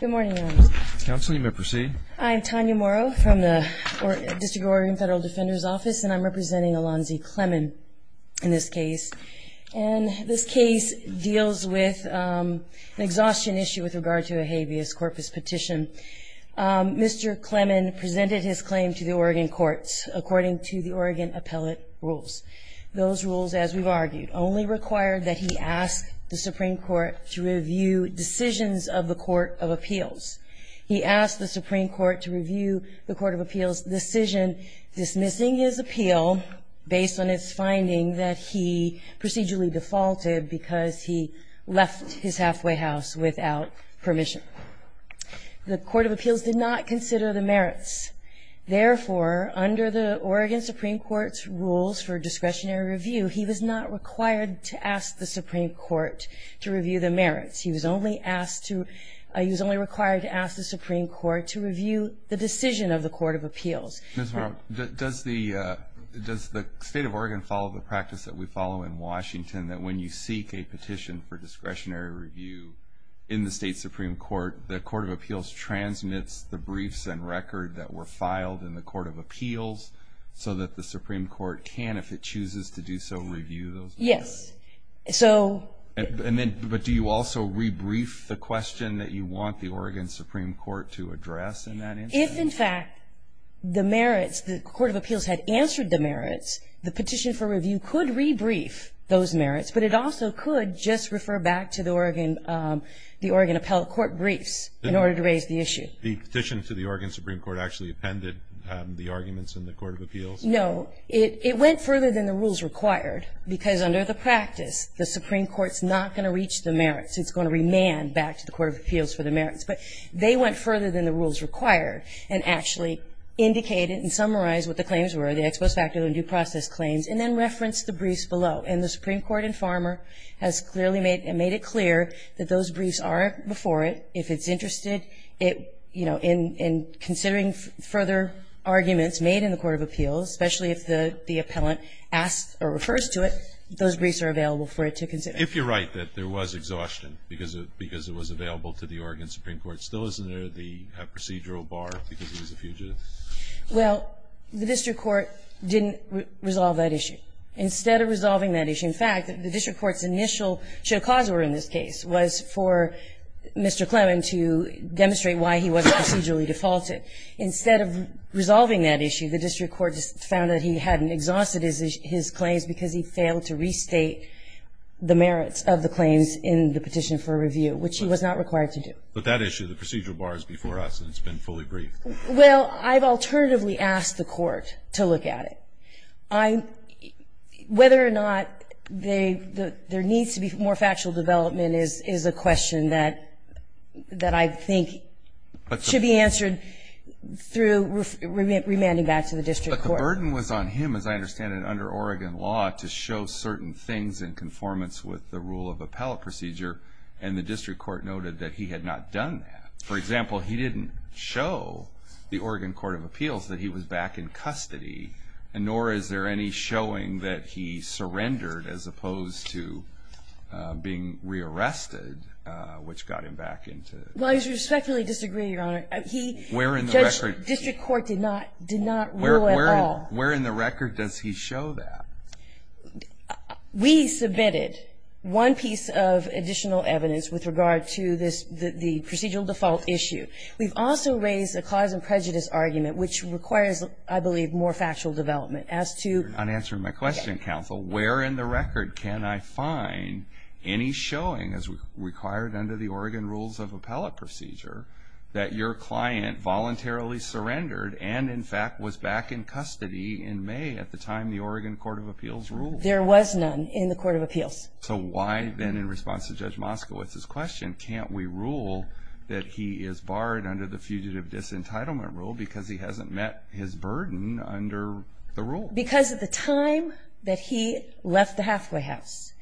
Good morning, Your Honor. Counsel, you may proceed. I'm Tanya Morrow from the District of Oregon Federal Defender's Office, and I'm representing Alonzie Clemmon in this case. And this case deals with an exhaustion issue with regard to a habeas corpus petition. Mr. Clemmon presented his claim to the Oregon courts according to the Oregon appellate rules. Those rules, as we've argued, only require that he ask the Supreme Court to review decisions of the Court of Appeals. He asked the Supreme Court to review the Court of Appeals' decision dismissing his appeal based on its finding that he procedurally defaulted because he left his halfway house without permission. The Court of Appeals did not consider the merits. Therefore, under the Oregon Supreme Court's rules for discretionary review, he was not required to ask the Supreme Court to review the merits. He was only required to ask the Supreme Court to review the decision of the Court of Appeals. Ms. Morrow, does the State of Oregon follow the practice that we follow in Washington, that when you seek a petition for discretionary review in the State Supreme Court, the Court of Appeals transmits the briefs and record that were filed in the Court of Appeals so that the Supreme Court can, if it chooses to do so, review those merits? Yes. But do you also rebrief the question that you want the Oregon Supreme Court to address in that instance? If, in fact, the merits, the Court of Appeals had answered the merits, the petition for review could rebrief those merits, but it also could just refer back to the Oregon appellate court briefs in order to raise the issue. The petition to the Oregon Supreme Court actually appended the arguments in the Court of Appeals? No. It went further than the rules required because, under the practice, the Supreme Court's not going to reach the merits. It's going to remand back to the Court of Appeals for the merits. But they went further than the rules required and actually indicated and summarized what the claims were, the ex post facto and due process claims, and then referenced the briefs below. And the Supreme Court in Farmer has clearly made it clear that those briefs are before it. If it's interested, it, you know, in considering further arguments made in the Court of Appeals, especially if the appellant asks or refers to it, those briefs are available for it to consider. If you're right that there was exhaustion because it was available to the Oregon Supreme Court, still isn't there the procedural bar because he was a fugitive? Well, the district court didn't resolve that issue. Instead of resolving that issue, in fact, the district court's initial cause in this case was for Mr. Clemen to demonstrate why he wasn't procedurally defaulted. Instead of resolving that issue, the district court found that he hadn't exhausted his claims because he failed to restate the merits of the claims in the petition for review, which he was not required to do. But that issue, the procedural bar is before us and it's been fully briefed. Well, I've alternatively asked the court to look at it. Whether or not there needs to be more factual development is a question that I think should be answered through remanding back to the district court. But the burden was on him, as I understand it, under Oregon law to show certain things in conformance with the rule of appellate procedure, and the district court noted that he had not done that. For example, he didn't show the Oregon Court of Appeals that he was back in custody and nor is there any showing that he surrendered as opposed to being re-arrested, which got him back into custody. Well, I respectfully disagree, Your Honor. Where in the record? District court did not rule at all. Where in the record does he show that? We submitted one piece of additional evidence with regard to the procedural default issue. We've also raised a cause and prejudice argument, which requires, I believe, more factual development. As to- On answering my question, counsel, where in the record can I find any showing as required under the Oregon rules of appellate procedure that your client voluntarily surrendered and, in fact, was back in custody in May at the time the Oregon Court of Appeals ruled? There was none in the Court of Appeals. So why then, in response to Judge Moskowitz's question, can't we rule that he is barred under the Fugitive Disentitlement Rule because he hasn't met his burden under the rule? Because at the time that he left the halfway house,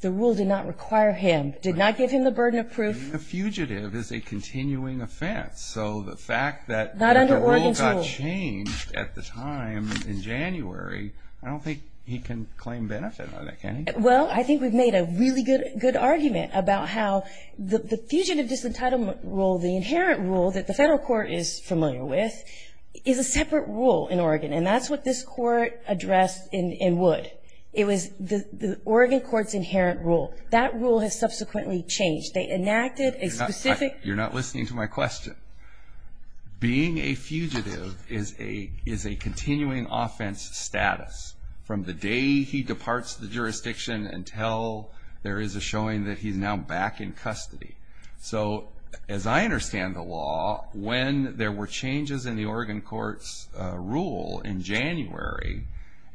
the rule did not require him, did not give him the burden of proof. A fugitive is a continuing offense, so the fact that- Not under Oregon's rule.... the rule got changed at the time in January, I don't think he can claim benefit on that, can he? Well, I think we've made a really good argument about how the Fugitive Disentitlement Rule, the inherent rule that the federal court is familiar with, is a separate rule in Oregon, and that's what this court addressed in Wood. It was the Oregon court's inherent rule. That rule has subsequently changed. They enacted a specific- You're not listening to my question. Being a fugitive is a continuing offense status from the day he departs the jurisdiction until there is a showing that he's now back in custody. So, as I understand the law, when there were changes in the Oregon court's rule in January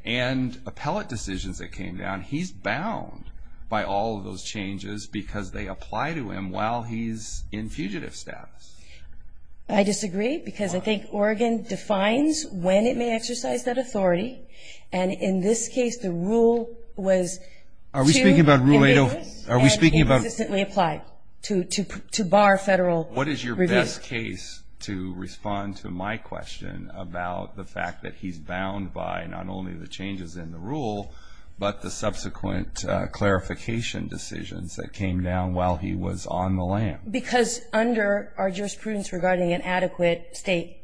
and appellate decisions that came down, he's bound by all of those changes because they apply to him while he's in fugitive status. I disagree because I think Oregon defines when it may exercise that authority, and in this case, the rule was- Are we speaking about Rule 8- And it consistently applied to bar federal review. What is your best case to respond to my question about the fact that he's bound by not only the changes in the rule but the subsequent clarification decisions that came down while he was on the land? Because under our jurisprudence regarding an adequate state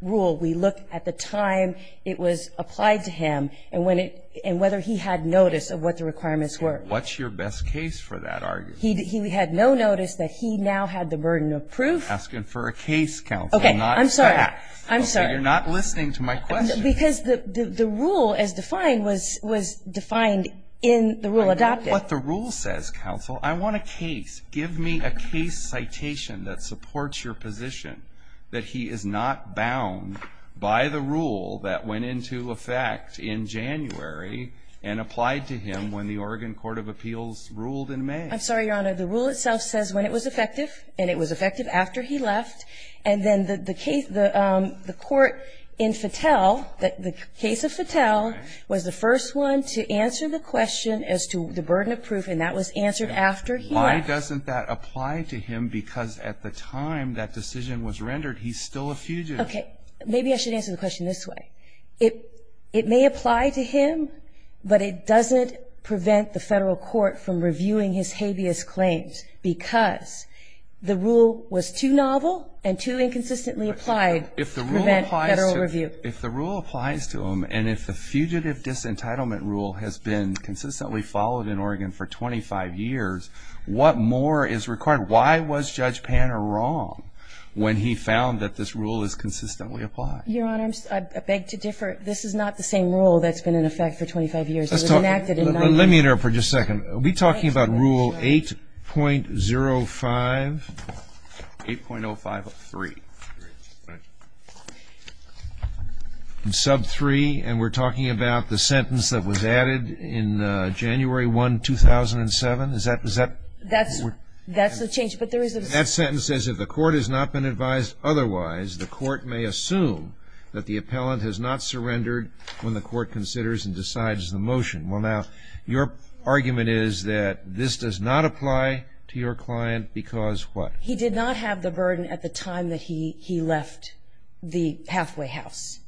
rule, we look at the time it was applied to him and whether he had notice of what the requirements were. What's your best case for that argument? He had no notice that he now had the burden of proof. I'm asking for a case, counsel, not a fact. Okay, I'm sorry. I'm sorry. Okay, you're not listening to my question. Because the rule as defined was defined in the rule adopted. What the rule says, counsel, I want a case. Give me a case citation that supports your position that he is not bound by the rule that went into effect in January and applied to him when the Oregon Court of Appeals ruled in May. I'm sorry, Your Honor. The rule itself says when it was effective, and it was effective after he left. And then the case the court in Fattel, the case of Fattel, was the first one to answer the question as to the burden of proof, and that was answered after he left. Why doesn't that apply to him? Because at the time that decision was rendered, he's still a fugitive. Okay. Maybe I should answer the question this way. It may apply to him, but it doesn't prevent the federal court from reviewing his habeas claims because the rule was too novel and too inconsistently applied to prevent federal review. If the rule applies to him, and if the fugitive disentitlement rule has been consistently followed in Oregon for 25 years, what more is required? Why was Judge Panner wrong when he found that this rule is consistently applied? Your Honor, I beg to differ. This is not the same rule that's been in effect for 25 years. It was enacted in 1989. Let me interrupt for just a second. Are we talking about Rule 8.05? 8.05.3. Sub 3, and we're talking about the sentence that was added in January 1, 2007? Is that? That's the change. That sentence says, If the court has not been advised otherwise, the court may assume that the appellant has not surrendered when the court considers and decides the motion. Well, now, your argument is that this does not apply to your client because what? He did not have the burden at the time that he left the halfway house.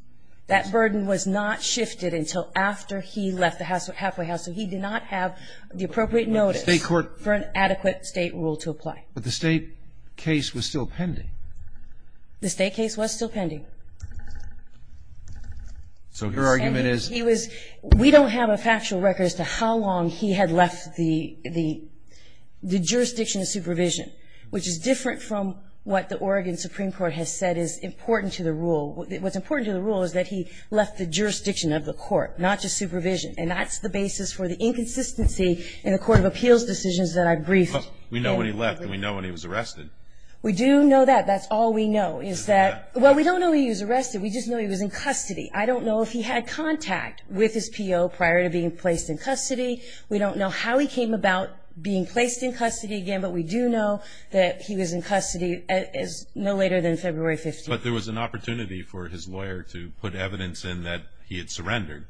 That burden was not shifted until after he left the halfway house, so he did not have the appropriate notice for an adequate state rule to apply. But the state case was still pending. The state case was still pending. So your argument is? We don't have a factual record as to how long he had left the jurisdiction of supervision, which is different from what the Oregon Supreme Court has said is important to the rule. What's important to the rule is that he left the jurisdiction of the court, not just supervision, and that's the basis for the inconsistency in the court of appeals decisions that I've briefed. We know when he left and we know when he was arrested. We do know that. That's all we know is that we don't know he was arrested. We just know he was in custody. I don't know if he had contact with his PO prior to being placed in custody. We don't know how he came about being placed in custody again, but we do know that he was in custody no later than February 15th. But there was an opportunity for his lawyer to put evidence in that he had surrendered.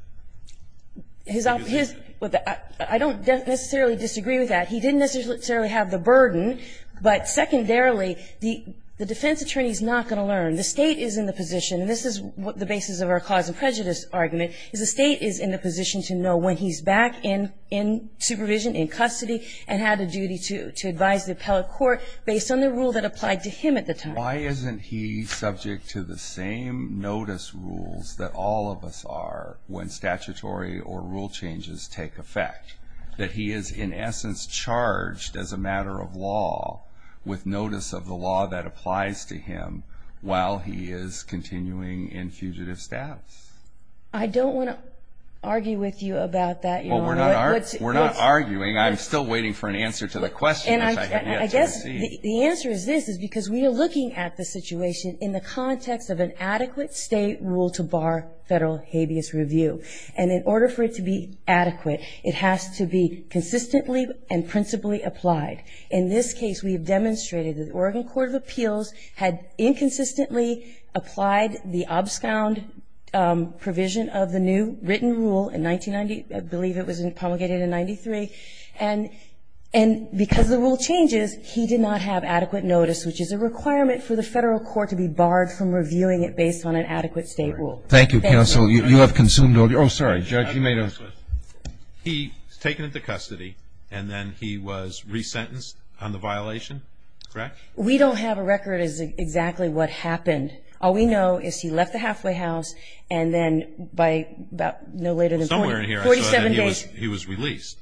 I don't necessarily disagree with that. He didn't necessarily have the burden, but secondarily, the defense attorney is not going to learn. The State is in the position, and this is the basis of our cause and prejudice argument, is the State is in the position to know when he's back in supervision, in custody, and had a duty to advise the appellate court based on the rule that applied to him at the time. Why isn't he subject to the same notice rules that all of us are when statutory or rule changes take effect, that he is, in essence, charged as a matter of law with notice of the law that applies to him while he is continuing in fugitive status? I don't want to argue with you about that. Well, we're not arguing. I'm still waiting for an answer to the question. I guess the answer is this, is because we are looking at the situation in the context of an adequate State rule to bar Federal habeas review, and in order for it to be adequate, it has to be consistently and principally applied. In this case, we have demonstrated that the Oregon Court of Appeals had inconsistently applied the obscound provision of the new written rule in 1990, I believe it was promulgated in 1993, and because the rule changes, he did not have adequate notice, which is a requirement for the Federal court to be barred from reviewing it based on an adequate State rule. Thank you, Counsel. You have consumed all your time. Oh, sorry, Judge, you may have. He was taken into custody, and then he was resentenced on the violation, correct? We don't have a record as to exactly what happened. All we know is he left the halfway house, and then by no later than 47 days he was released.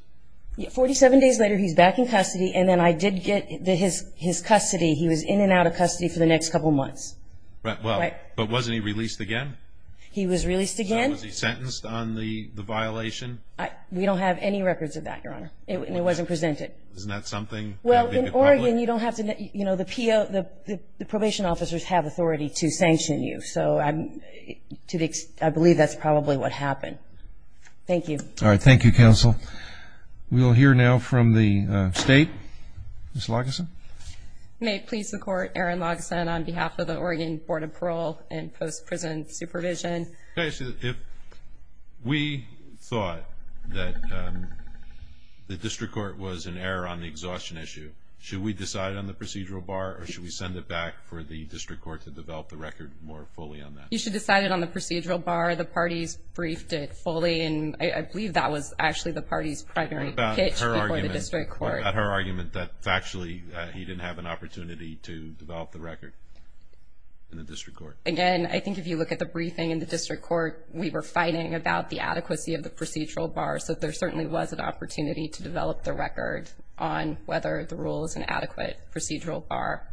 47 days later, he's back in custody, and then I did get his custody. He was in and out of custody for the next couple months. But wasn't he released again? He was released again. Was he sentenced on the violation? We don't have any records of that, Your Honor, and it wasn't presented. Isn't that something? Well, in Oregon, you don't have to know. The probation officers have authority to sanction you, so I believe that's probably what happened. Thank you. All right. Thank you, Counsel. We will hear now from the State. Ms. Lageson. May it please the Court, Aaron Lageson on behalf of the Oregon Board of Parole and Post-Prison Supervision. If we thought that the district court was in error on the exhaustion issue, should we decide on the procedural bar, or should we send it back for the district court to develop the record more fully on that? You should decide it on the procedural bar. The parties briefed it fully, and I believe that was actually the party's primary pitch before the district court. What about her argument that factually he didn't have an opportunity to develop the record in the district court? Again, I think if you look at the briefing in the district court, we were fighting about the adequacy of the procedural bar, so there certainly was an opportunity to develop the record on whether the rule is an adequate procedural bar.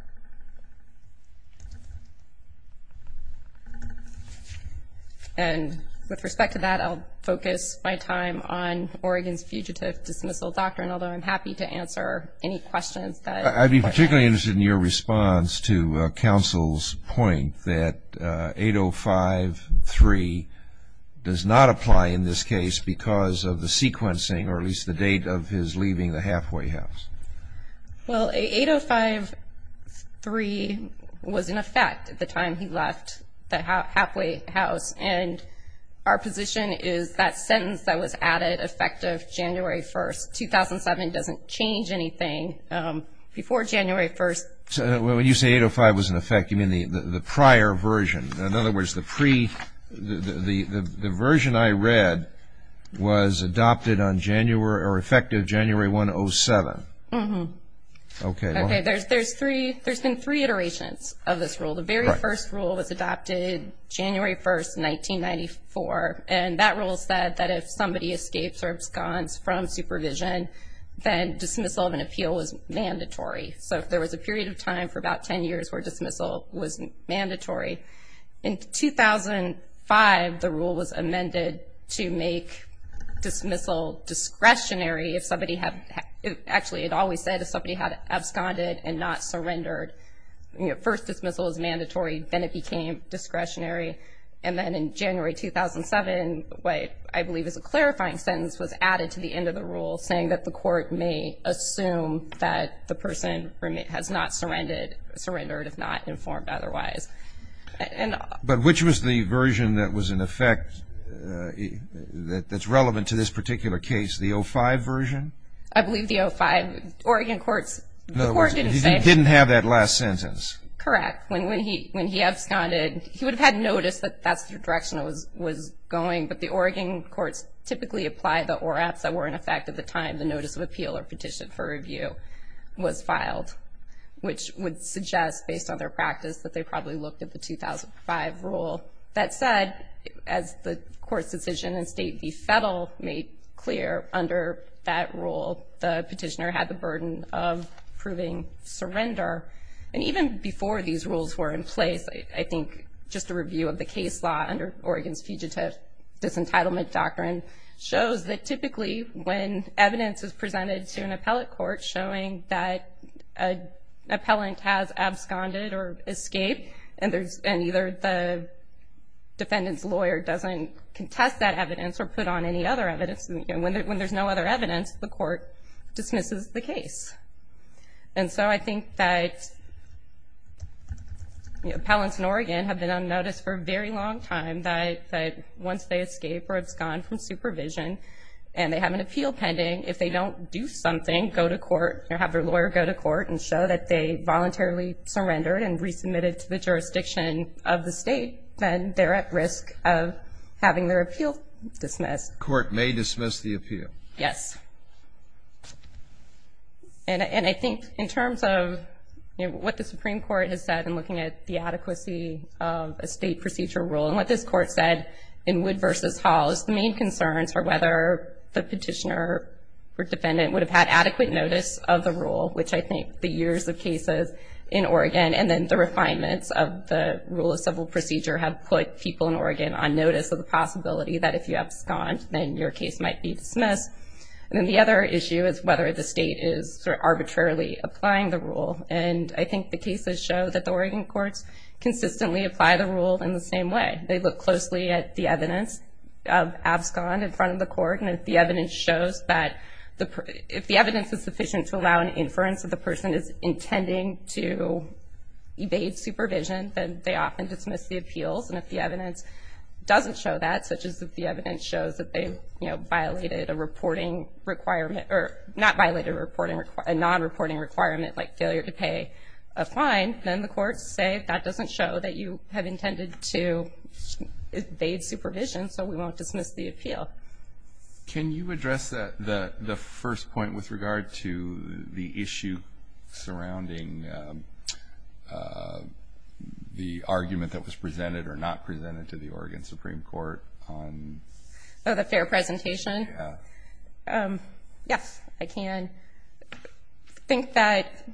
And with respect to that, I'll focus my time on Oregon's Fugitive Dismissal Doctrine, although I'm happy to answer any questions that the Court has. I'd be particularly interested in your response to Counsel's point that 8053 does not apply in this case because of the sequencing, or at least the date of his leaving the halfway house. Well, 8053 was in effect at the time he left the halfway house, and our position is that sentence that was added effective January 1st, 2007, doesn't change anything before January 1st. When you say 805 was in effect, you mean the prior version. In other words, the version I read was adopted on January, or effective January 1, 2007. Mm-hmm. Okay. There's been three iterations of this rule. The very first rule was adopted January 1st, 1994, and that rule said that if somebody escapes or absconds from supervision, then dismissal of an appeal was mandatory. So if there was a period of time for about 10 years where dismissal was mandatory. In 2005, the rule was amended to make dismissal discretionary. Actually, it always said if somebody had absconded and not surrendered, first dismissal is mandatory, then it became discretionary. And then in January 2007, what I believe is a clarifying sentence was added to the end of the rule, saying that the court may assume that the person has not surrendered if not informed otherwise. But which was the version that was in effect that's relevant to this particular case, the 05 version? I believe the 05, Oregon courts, the court didn't say. Didn't have that last sentence. Correct. When he absconded, he would have had noticed that that's the direction it was going, but the Oregon courts typically apply the ORAPs that were in effect at the time the notice of appeal or petition for review was filed, which would suggest based on their practice that they probably looked at the 2005 rule. That said, as the court's decision in State v. Federal made clear under that rule, the petitioner had the burden of proving surrender. And even before these rules were in place, I think just a review of the case law under Oregon's Fugitive Disentitlement Doctrine shows that typically when evidence is presented to an appellate court showing that an appellant has absconded or escaped and either the defendant's lawyer doesn't contest that evidence or put on any other evidence, when there's no other evidence, the court dismisses the case. And so I think that appellants in Oregon have been on notice for a very long time that once they escape or abscond from supervision and they have an appeal pending, if they don't do something, go to court or have their lawyer go to court and show that they voluntarily surrendered and resubmitted to the jurisdiction of the state, then they're at risk of having their appeal dismissed. The court may dismiss the appeal. Yes. And I think in terms of what the Supreme Court has said in looking at the adequacy of a state procedure rule and what this court said in Wood v. Hall is the main concerns are whether the petitioner or defendant would have had adequate notice of the rule, which I think the years of cases in Oregon and then the refinements of the rule of civil procedure have put people in Oregon on notice of the possibility that if you abscond, then your case might be dismissed. And then the other issue is whether the state is sort of arbitrarily applying the rule. And I think the cases show that the Oregon courts consistently apply the rule in the same way. They look closely at the evidence of abscond in front of the court, and if the evidence is sufficient to allow an inference that the person is intending to evade supervision, then they often dismiss the appeals. And if the evidence doesn't show that, such as if the evidence shows that they, you know, violated a non-reporting requirement like failure to pay a fine, then the courts say that doesn't show that you have intended to evade supervision, Can you address the first point with regard to the issue surrounding the argument that was presented or not presented to the Oregon Supreme Court on... Oh, the fair presentation? Yeah. Yes, I can. I think that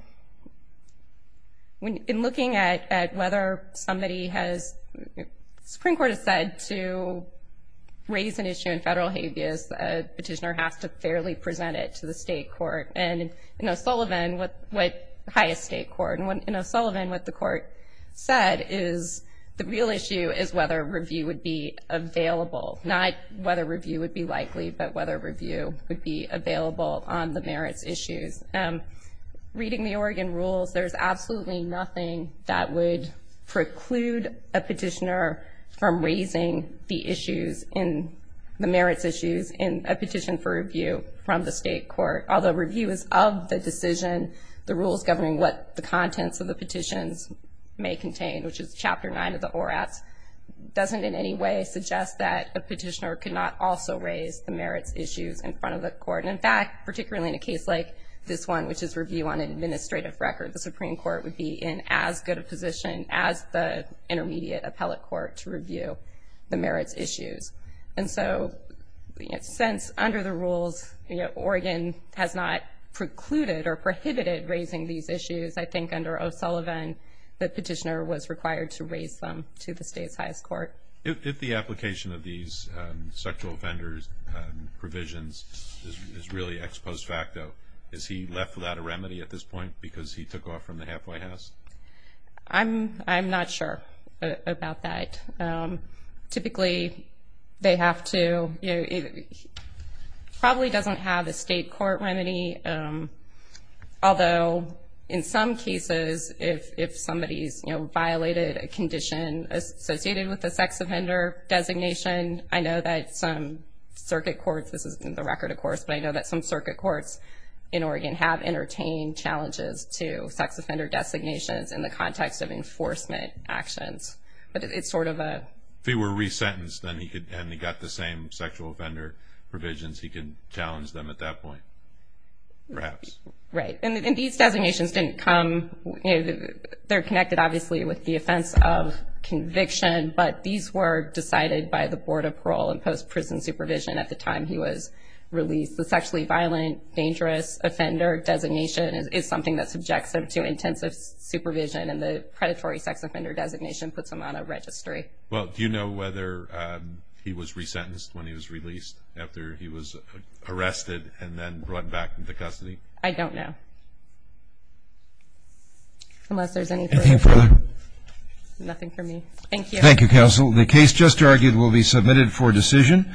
in looking at whether somebody has... a petitioner has to fairly present it to the state court. And in O'Sullivan, what the court said is the real issue is whether review would be available, not whether review would be likely, but whether review would be available on the merits issues. Reading the Oregon rules, there's absolutely nothing that would preclude a petitioner from raising the issues in the merits issues in a petition for review from the state court. Although review is of the decision, the rules governing what the contents of the petitions may contain, which is Chapter 9 of the ORATS, doesn't in any way suggest that a petitioner could not also raise the merits issues in front of the court. And in fact, particularly in a case like this one, which is review on an administrative record, the Supreme Court would be in as good a position as the intermediate appellate court to review the merits issues. And so since under the rules Oregon has not precluded or prohibited raising these issues, I think under O'Sullivan the petitioner was required to raise them to the state's highest court. If the application of these sexual offenders provisions is really ex post facto, is he left without a remedy at this point because he took off from the halfway house? I'm not sure about that. Typically they have to. He probably doesn't have a state court remedy, although in some cases if somebody's, you know, violated a condition associated with a sex offender designation, I know that some circuit courts, this isn't the record of course, but I know that some circuit courts in Oregon have entertained challenges to sex offender designations in the context of enforcement actions. But it's sort of a... If he were resentenced and he got the same sexual offender provisions, he could challenge them at that point, perhaps. Right. And these designations didn't come, they're connected obviously with the offense of conviction, but these were decided by the Board of Parole and Post-Prison Supervision at the time he was released. The sexually violent, dangerous offender designation is something that subjects him to intensive supervision, and the predatory sex offender designation puts him on a registry. Well, do you know whether he was resentenced when he was released, after he was arrested and then brought back into custody? I don't know. Unless there's anything further. Nothing for me. Thank you. Thank you, Counsel. The case just argued will be submitted for decision.